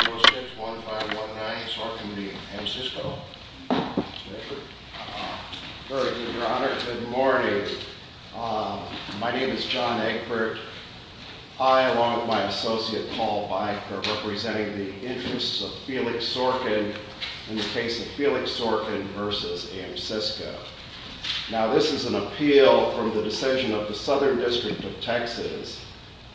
4-6-1-5-1-9 Sorkin v. Amsysco Good morning. My name is John Egbert. I, along with my associate Paul Byker, are representing the interests of Felix Sorkin in the case of Felix Sorkin v. Amsysco. Now, this is an appeal from the decision of the Southern District of Texas,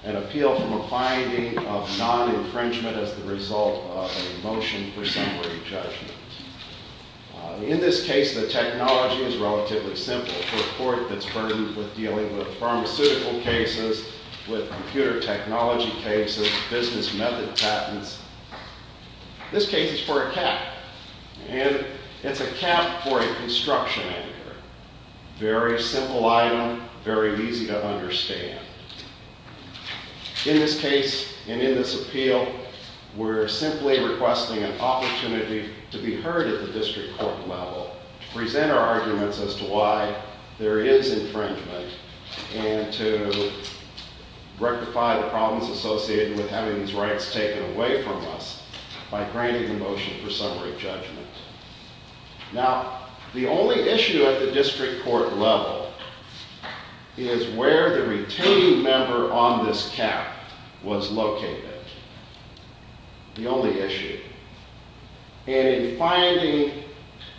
an appeal from a finding of non-infringement as the result of a motion for summary judgment. In this case, the technology is relatively simple for a court that's burdened with dealing with pharmaceutical cases, with computer technology cases, business method patents. This case is for a cap, and it's a cap for a construction engineer. Very simple item, very easy to understand. In this case, and in this appeal, we're simply requesting an opportunity to be heard at the district court level, to present our arguments as to why there is infringement, and to rectify the problems associated with having these rights taken away from us by granting the motion for summary judgment. Now, the only issue at the district court level is where the retaining member on this cap was located. The only issue. And in finding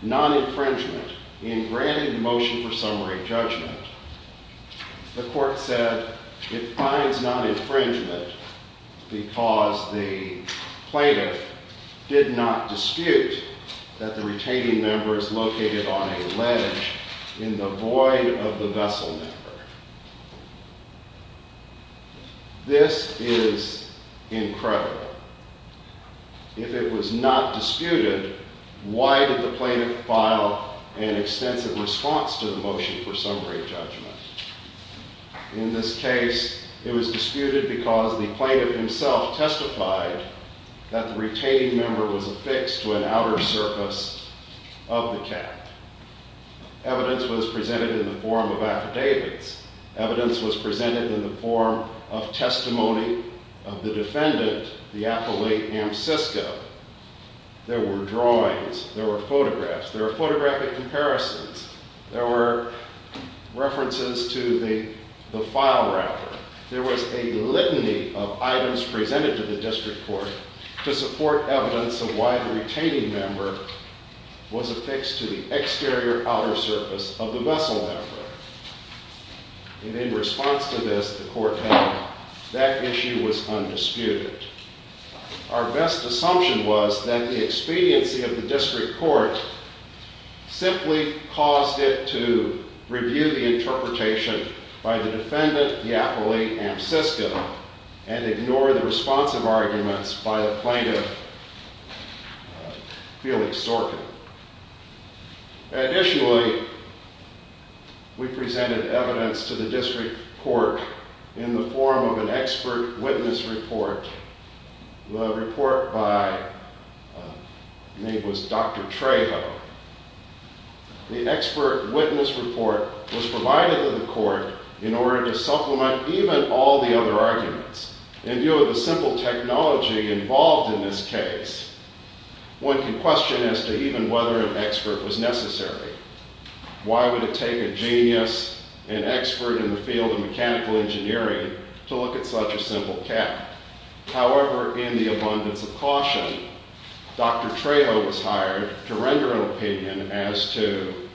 non-infringement in granting the motion for summary judgment, the court said it finds non-infringement because the plaintiff did not dispute that the retaining member is located on a ledge in the void of the vessel member. This is incredible. If it was not disputed, why did the plaintiff file an extensive response to the motion for summary judgment? In this case, it was disputed because the plaintiff himself testified that the retaining member was affixed to an outer surface of the cap. Evidence was presented in the form of affidavits. Evidence was presented in the form of testimony of the defendant, the appellate Amsisco. There were drawings. There were photographs. There were photographic comparisons. There were references to the file router. There was a litany of items presented to the district court to support evidence of why the retaining member was affixed to the exterior outer surface of the vessel member. And in response to this, the court found that issue was undisputed. Our best assumption was that the expediency of the district court simply caused it to review the interpretation by the defendant, the appellate Amsisco, and ignore the responsive arguments by the plaintiff, Felix Sorkin. Additionally, we presented evidence to the district court in the form of an expert witness report, the report by Dr. Trejo. The expert witness report was provided to the court in order to supplement even all the other arguments. In view of the simple technology involved in this case, one can question as to even whether an expert was necessary. Why would it take a genius, an expert in the field of mechanical engineering, to look at such a simple cap? However, in the abundance of caution, Dr. Trejo was hired to render an opinion as to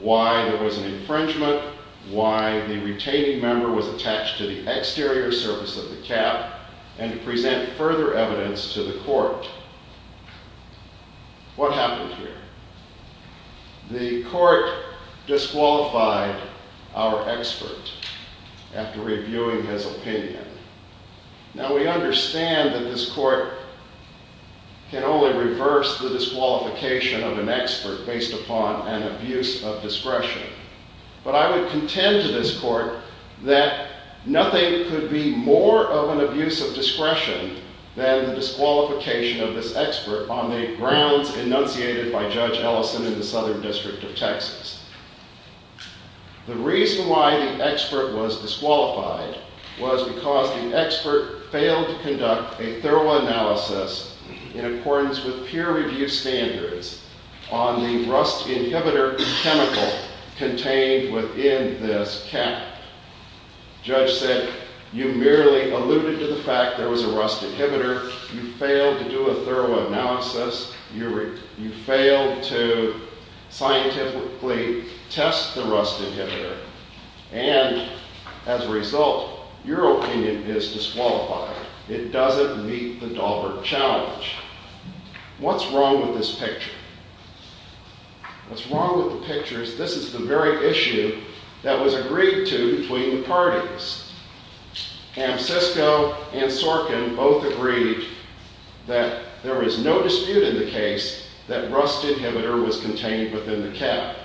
why there was an infringement, why the retaining member was attached to the exterior surface of the cap, and to present further evidence to the court. What happened here? The court disqualified our expert after reviewing his opinion. Now, we understand that this court can only reverse the disqualification of an expert based upon an abuse of discretion. But I would contend to this court that nothing could be more of an abuse of discretion than the disqualification of this expert on the grounds enunciated by Judge Ellison in the Southern District of Texas. The reason why the expert was disqualified was because the expert failed to conduct a thorough analysis in accordance with peer-reviewed standards on the rust inhibitor chemical contained within this cap. Judge said, you merely alluded to the fact there was a rust inhibitor. You failed to do a thorough analysis. You failed to scientifically test the rust inhibitor. And as a result, your opinion is disqualified. It doesn't meet the Dahlberg challenge. What's wrong with this picture? What's wrong with the picture is this is the very issue that was agreed to between the parties. Ansisco and Sorkin both agreed that there is no dispute in the case that rust inhibitor was contained within the cap.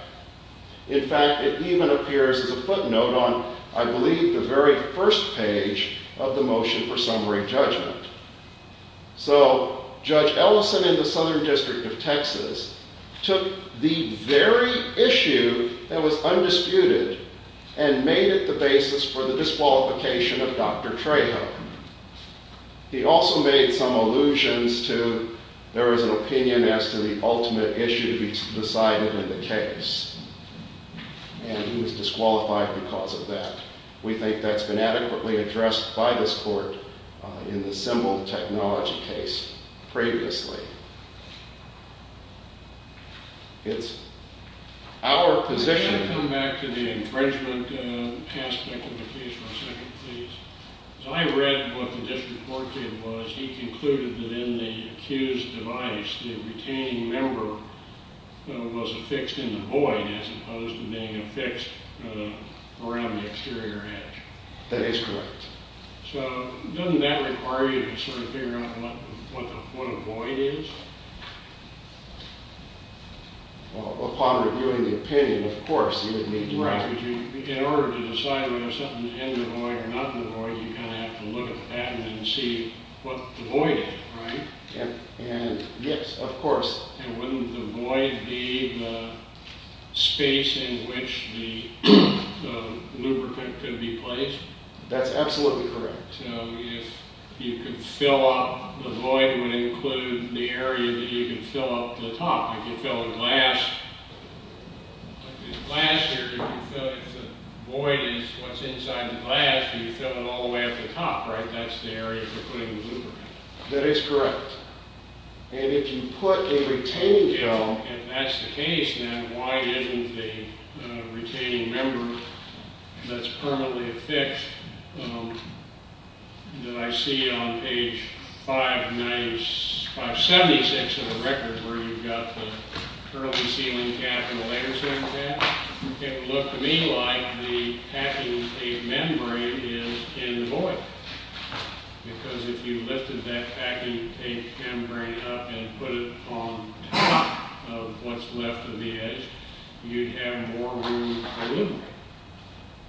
In fact, it even appears as a footnote on, I believe, the very first page of the motion for summary judgment. So Judge Ellison in the Southern District of Texas took the very issue that was undisputed and made it the basis for the disqualification of Dr. Trejo. He also made some allusions to there was an opinion as to the ultimate issue to be decided in the case. And he was disqualified because of that. We think that's been adequately addressed by this court in the symbol technology case previously. It's our position. Can I come back to the infringement aspect of the case for a second, please? I read what the district court did was he concluded that in the accused device, the retaining member was affixed in the void as opposed to being affixed around the exterior edge. That is correct. So doesn't that require you to sort of figure out what a void is? Well, upon reviewing the opinion, of course, you would need to know. In order to decide whether something's in the void or not in the void, you kind of have to look at the patent and see what the void is, right? Yes, of course. And wouldn't the void be the space in which the lubricant could be placed? That's absolutely correct. So if you could fill up, the void would include the area that you can fill up the top. If you fill a glass, like this glass here, if the void is what's inside the glass, you fill it all the way up to the top, right? That's the area for putting the lubricant. That is correct. And if you put a retaining member... If that's the case, then why isn't the retaining member that's permanently affixed, that I see on page 576 of the record where you've got the curly sealing cap and the laser sealing cap, it would look to me like the packing tape membrane is in the void. Because if you lifted that packing tape membrane up and put it on top of what's left of the edge, you'd have more room for lubricant.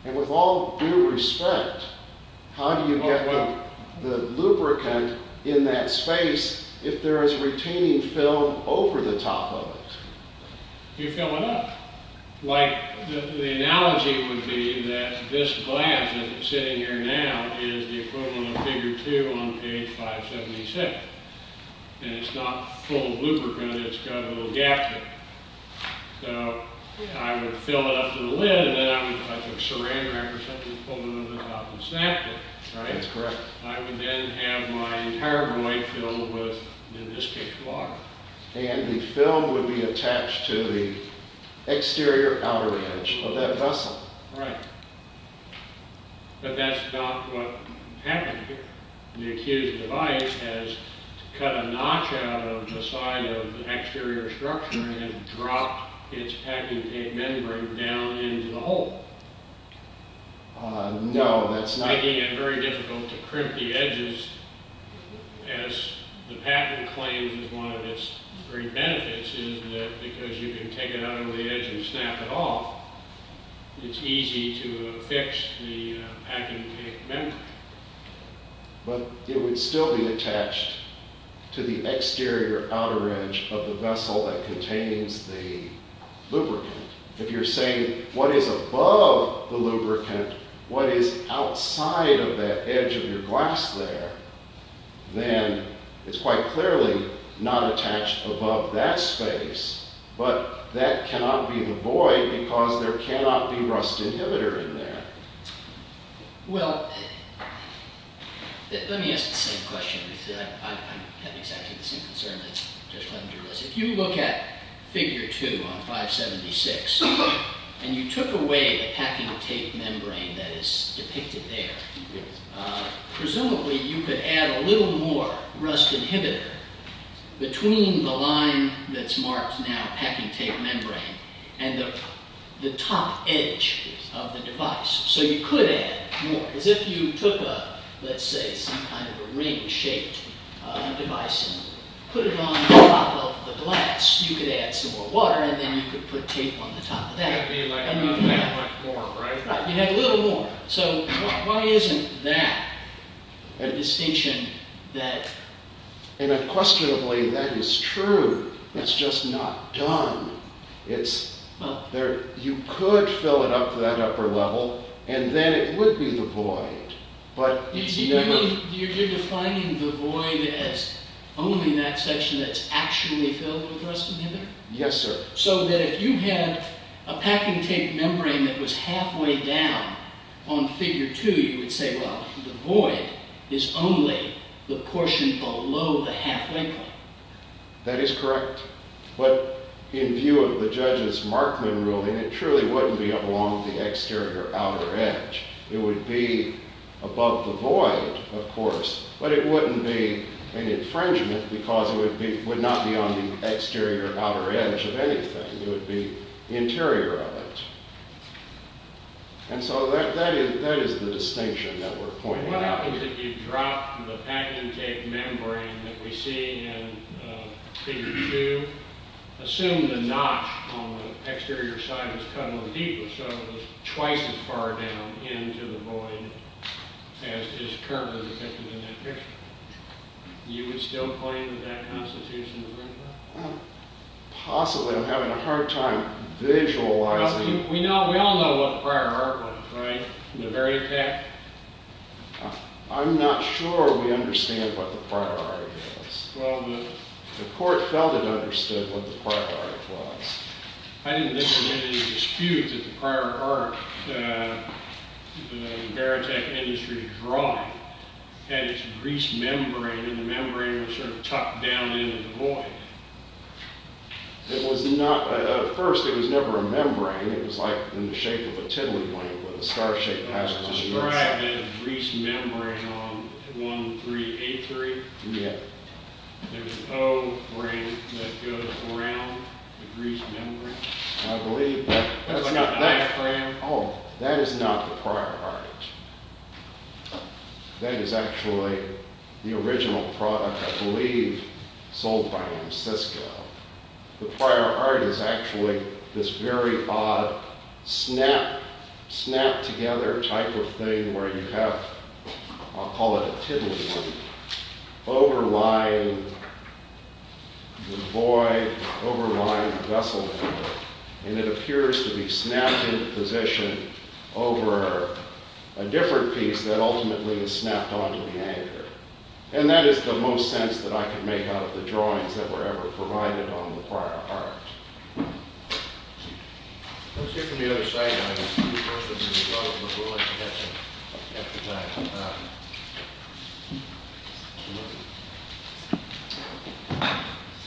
And with all due respect, how do you get the lubricant in that space if there is retaining film over the top of it? You fill it up. Like, the analogy would be that this glass that's sitting here now is the equivalent of figure 2 on page 576. And it's not full of lubricant, it's got a little gap there. So, I would fill it up to the lid, and then I would, if I took Saran Wrap or something and pulled it over the top and snapped it, right? That's correct. I would then have my entire void filled with, in this case, water. And the film would be attached to the exterior outer edge of that vessel. Right. But that's not what happened here. The accused device has cut a notch out of the side of the exterior structure and dropped its packing tape membrane down into the hole. No, that's not... It's very tricky and very difficult to crimp the edges, as the patent claims is one of its great benefits, is that because you can take it out over the edge and snap it off, it's easy to fix the packing tape membrane. But it would still be attached to the exterior outer edge of the vessel that contains the lubricant. If you're saying, what is above the lubricant, what is outside of that edge of your glass there, then it's quite clearly not attached above that space. But that cannot be the void because there cannot be rust inhibitor in there. Well, let me ask the same question. I have exactly the same concern as Judge Levender does. If you look at figure 2 on 576 and you took away the packing tape membrane that is depicted there, presumably you could add a little more rust inhibitor between the line that's marked now packing tape membrane and the top edge of the device. So you could add more. As if you took, let's say, some kind of a ring-shaped device and put it on top of the glass, you could add some more water and then you could put tape on the top of that. That would be like more, right? Right, you'd add a little more. So why isn't that a distinction that... And unquestionably, that is true. It's just not done. You could fill it up to that upper level and then it would be the void. You're defining the void as only that section that's actually filled with rust inhibitor? Yes, sir. So that if you had a packing tape membrane that was halfway down on figure 2, you would say, well, the void is only the portion below the halfway point. That is correct. But in view of the judge's Markman ruling, it truly wouldn't be along the exterior outer edge. It would be above the void, of course, but it wouldn't be an infringement because it would not be on the exterior outer edge of anything. It would be the interior of it. And so that is the distinction that we're pointing out here. If you dropped the packing tape membrane that we see in figure 2, assume the notch on the exterior side was cut a little deeper so it was twice as far down into the void as is currently depicted in that picture. You would still claim that that constitution is right there? Possibly. I'm having a hard time visualizing. We all know what prior art was, right? The very tech. I'm not sure we understand what the prior art is. The court felt it understood what the prior art was. I didn't think there was any dispute that the prior art, the barotech industry drawing, had its grease membrane and the membrane was sort of tucked down into the void. At first, it was never a membrane. It was like in the shape of a tiddlywink with a star-shaped passage. There's a grease membrane on 1383. Yeah. There's an O ring that goes around the grease membrane. I believe that. I've got an F ring. Oh, that is not the prior art. That is actually the original product, I believe, sold by Ancisco. The prior art is actually this very odd snap-together type of thing where you have, I'll call it a tiddlywink, overlying the void, overlying the vessel. And it appears to be snapped into position over a different piece that ultimately is snapped onto the anchor. And that is the most sense that I can make out of the drawings that were ever provided on the prior art.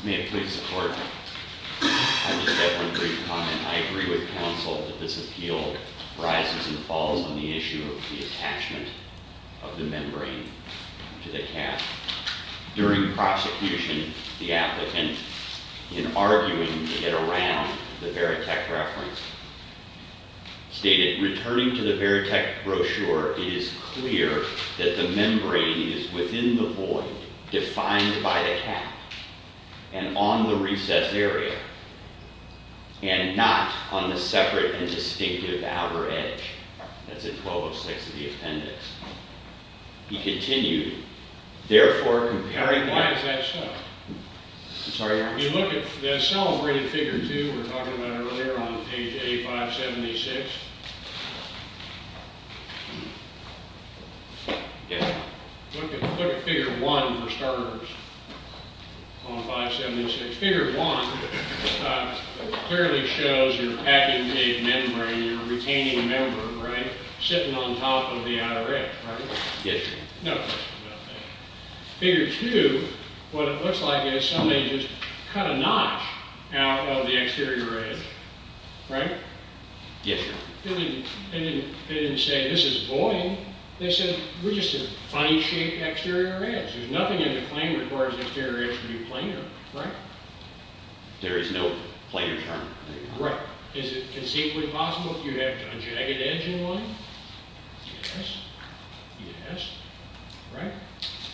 May it please the Court. I just have one brief comment. I agree with counsel that this appeal rises and falls on the issue of the attachment of the membrane to the cap. During prosecution, the applicant, in arguing to get around the Veritech reference, stated, returning to the Veritech brochure, it is clear that the membrane is within the void, defined by the cap, and on the recessed area, and not on the separate and distinctive outer edge. That's in 1206 of the appendix. He continued, therefore, comparing the… Why is that so? I'm sorry, Your Honor. If you look at the celebrated figure 2 we were talking about earlier on page 8576, if you look at figure 1 for starters on 576, figure 1 clearly shows you're packing a membrane, you're retaining a membrane, right? Sitting on top of the outer edge, right? Yes, Your Honor. No. Figure 2, what it looks like is somebody just cut a notch out of the exterior edge, right? Yes, Your Honor. They didn't say, this is void. They said, we're just a fine-shaped exterior edge. There's nothing in the claim that requires the exterior edge to be planar, right? There is no planar term. Right. Is it conceivably possible if you have a jagged edge in one? Yes. Yes. Right?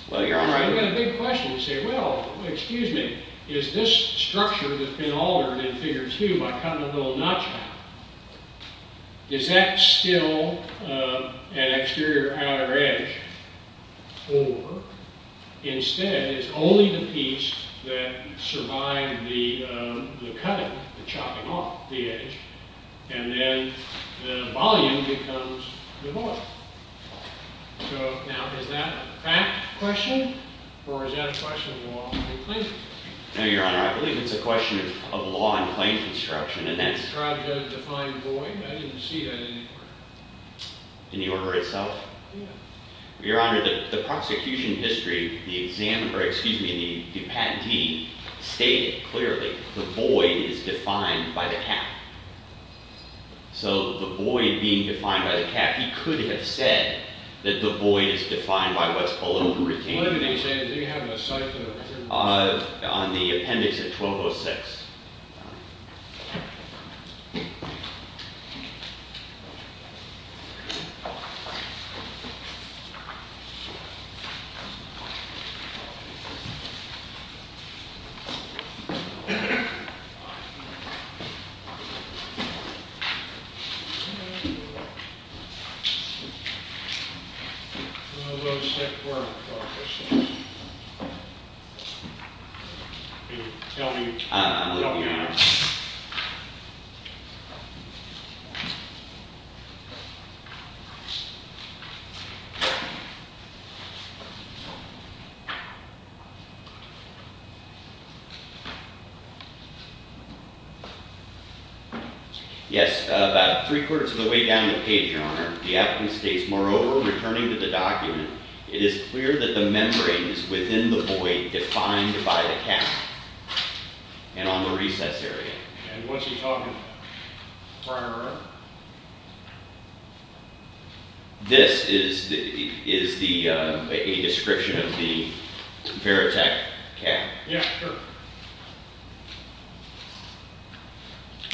Well, Your Honor… I've got a big question to say, well, excuse me, is this structure that's been altered in figure 2 by cutting a little notch out, is that still an exterior outer edge? Or, instead, it's only the piece that survived the cutting, the chopping off the edge, and then the volume becomes the void. So, now, is that a fact question? Or is that a question of law and claim construction? No, Your Honor. I believe it's a question of law and claim construction. And that's… Tried to define void. I didn't see that anywhere. In the order itself? Yeah. Your Honor, the prosecution history, the examiner, excuse me, the patentee, stated clearly the void is defined by the cap. So, the void being defined by the cap, he could have said that the void is defined by what's called a routine. What are you saying? Do you have a cipher? On the appendix at 1206. Thank you. I'm going to go check where I put this thing. Tell me when you're done. I will, Your Honor. Yes. About three-quarters of the way down the page, Your Honor, the applicant states, moreover, returning to the document, it is clear that the membrane is within the void defined by the cap and on the recess area. And what's he talking about? This is a description of the Veritec cap. Yeah, sure.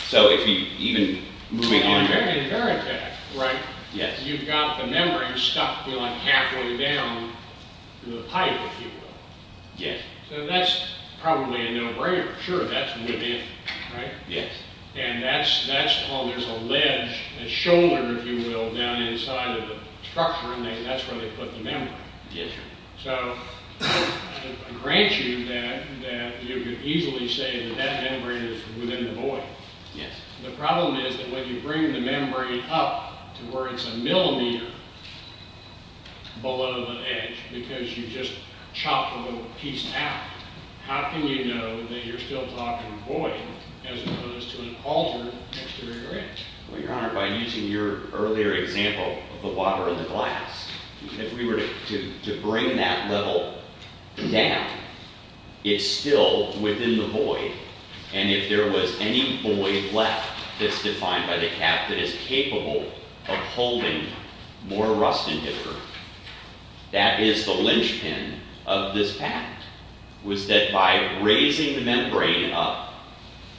So, if you even, moving on. In Veritec, right? Yes. You've got the membrane stuck, you know, like halfway down the pipe, if you will. Yes. So, that's probably a no-brainer. Sure, that's within, right? Yes. And that's called, there's a ledge, a shoulder, if you will, down inside of the structure, and that's where they put the membrane. Yes, Your Honor. So, I grant you that you could easily say that that membrane is within the void. Yes. The problem is that when you bring the membrane up to where it's a millimeter below the edge because you just chopped a little piece out, how can you know that you're still talking void as opposed to an altered exterior edge? Well, Your Honor, by using your earlier example of the water in the glass, if we were to bring that level down, it's still within the void, and if there was any void left that's defined by the cap that is capable of holding more rust inhibitor, that is the linchpin of this fact, was that by raising the membrane up,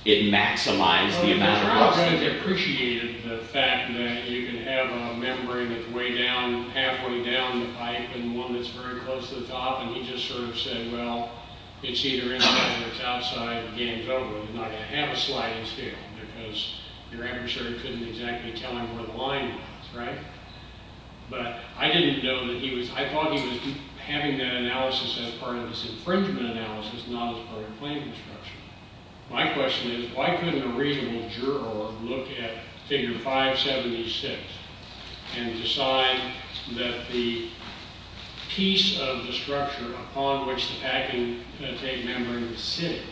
it maximized the amount of rust inhibitor. Your Honor has appreciated the fact that you can have a membrane that's way down, halfway down the pipe and one that's very close to the top, and he just sort of said, well, it's either inside or it's outside, the game's over, you're not going to have a sliding steel because your adversary couldn't exactly tell him where the line was, right? But I didn't know that he was, I thought he was having that analysis as part of his infringement analysis, not as part of claim construction. My question is, why couldn't a reasonable juror look at Figure 576 and decide that the piece of the structure upon which the packing tape membrane is sitting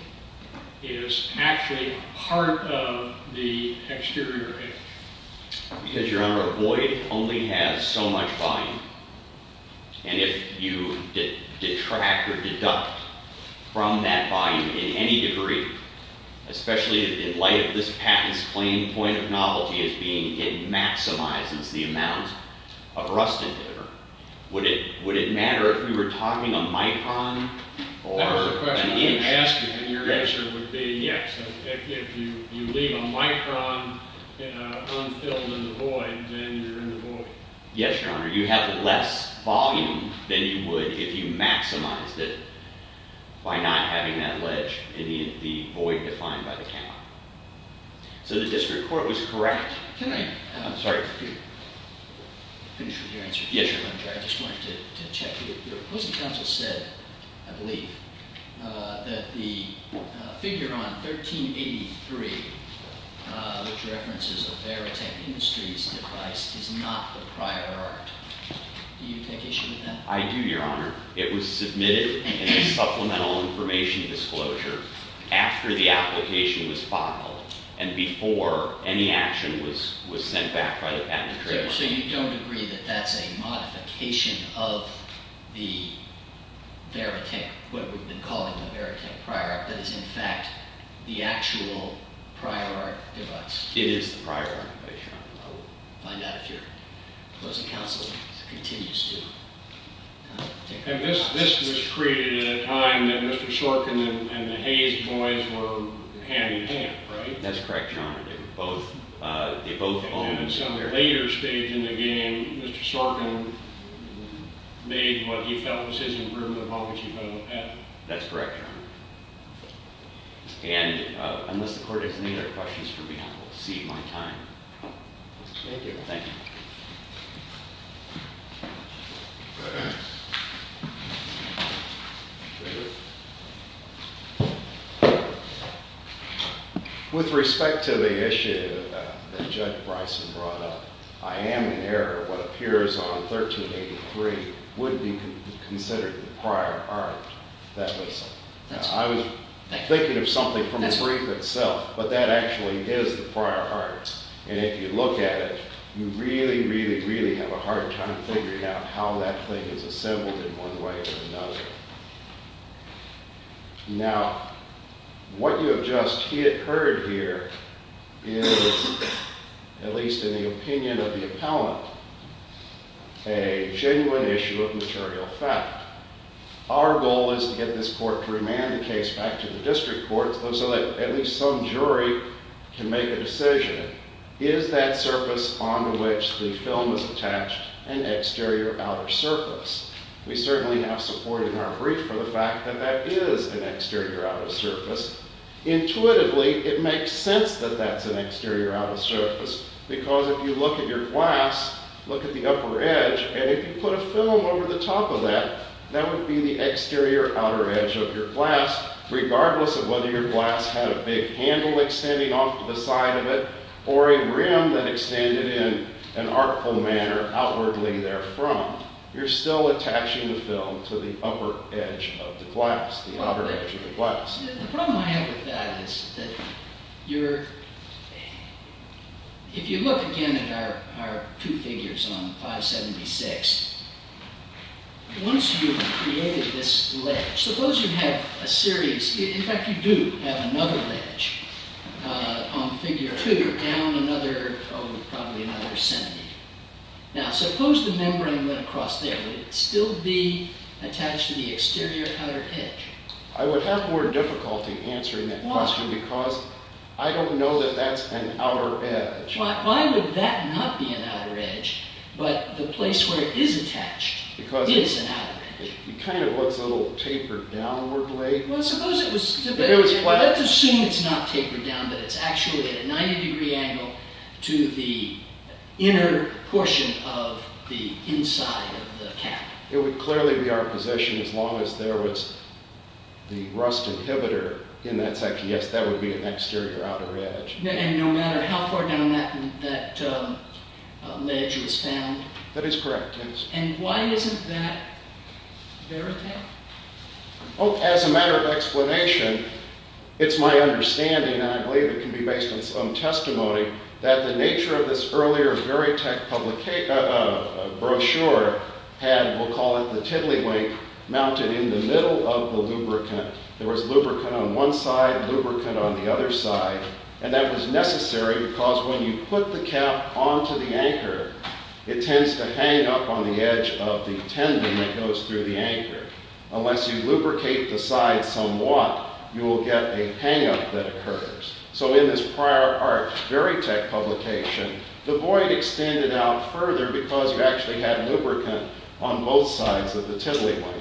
is actually part of the exterior edge? Because, Your Honor, a void only has so much volume, and if you detract or deduct from that volume in any degree, especially in light of this patent's plain point of knowledge, it maximizes the amount of rust inhibitor. Would it matter if you were talking a micron or an inch? That was the question I was asking, and your answer would be yes. If you leave a micron unfilled in the void, then you're in the void. Yes, Your Honor, you have less volume than you would if you maximized it by not having that ledge in the void defined by the count. So the district court was correct. Can I finish with your answer? Yes, Your Honor. I just wanted to check with you. Your opposing counsel said, I believe, that the figure on 1383, which references the Veritech Industries device, is not the prior art. Do you take issue with that? I do, Your Honor. It was submitted in a supplemental information disclosure after the application was filed and before any action was sent back by the patent attorney. So you don't agree that that's a modification of the Veritech, what we've been calling the Veritech prior art, that is, in fact, the actual prior art device? It is the prior art device, Your Honor. I will find out if your opposing counsel continues to take that. And this was created at a time that Mr. Sorkin and the Hayes boys were hand-in-hand, right? That's correct, Your Honor. They were both owners. And then at some later stage in the game, Mr. Sorkin made what he felt was his improvement upon what he felt was bad. That's correct, Your Honor. And unless the court has any other questions for me, I will cede my time. Thank you. Thank you. With respect to the issue that Judge Bryson brought up, I am in error. What appears on 1383 would be considered the prior art. I was thinking of something from the brief itself, but that actually is the prior art. And if you look at it, you really, really, really have a hard time figuring out how that thing is assembled in one way or another. Now, what you have just heard here is, at least in the opinion of the appellant, a genuine issue of material fact. Our goal is to get this court to remand the case back to the district courts so that at least some jury can make a decision. Is that surface on which the film is attached an exterior or outer surface? We certainly have support in our brief for the fact that that is an exterior or outer surface. Intuitively, it makes sense that that's an exterior or outer surface, because if you look at your glass, look at the upper edge, and if you put a film over the top of that, that would be the exterior or outer edge of your glass, regardless of whether your glass had a big handle extending off to the side of it or a rim that extended in an artful manner outwardly therefrom. You're still attaching the film to the upper edge of the glass, the outer edge of the glass. The problem I have with that is that if you look again at our two figures on 576, once you've created this ledge, suppose you have a series. In fact, you do have another ledge on figure two down another, probably another centimeter. Now, suppose the membrane went across there. Would it still be attached to the exterior or outer edge? I would have more difficulty answering that question because I don't know that that's an outer edge. Why would that not be an outer edge, but the place where it is attached is an outer edge? It kind of looks a little tapered downwardly. Well, suppose it was. Let's assume it's not tapered down, but it's actually at a 90-degree angle to the inner portion of the inside of the cap. It would clearly be our position as long as there was the rust inhibitor in that section. Yes, that would be an exterior or outer edge. And no matter how far down that ledge was found? That is correct, yes. And why isn't that verite? Well, as a matter of explanation, it's my understanding, and I believe it can be based on some testimony, that the nature of this earlier verite brochure had, we'll call it the tiddlywink, mounted in the middle of the lubricant. There was lubricant on one side, lubricant on the other side, and that was necessary because when you put the cap onto the anchor, it tends to hang up on the edge of the tendon that goes through the anchor. Unless you lubricate the side somewhat, you will get a hang-up that occurs. So in this prior art verite publication, the void extended out further because you actually had lubricant on both sides of the tiddlywink.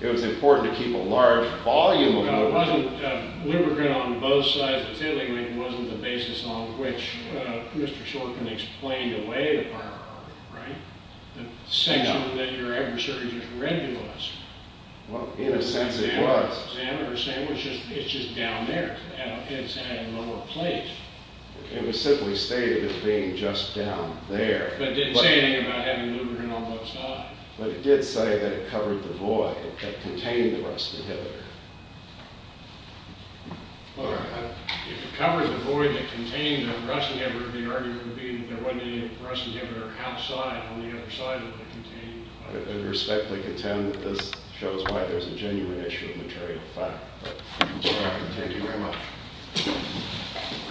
It was important to keep a large volume of lubricant. Lubricant on both sides of the tiddlywink wasn't the basis on which Mr. Shorkin explained away the prior art verite, right? The section that your adversary just read you was. Well, in a sense it was. It's just down there. It's at a lower place. It was simply stated as being just down there. But it didn't say anything about having lubricant on both sides. But it did say that it covered the void that contained the rust inhibitor. If it covered the void that contained the rust inhibitor, the argument would be that there wasn't any rust inhibitor outside on the other side that it contained. I respectfully contend that this shows why there's a genuine issue of material fact. Thank you very much.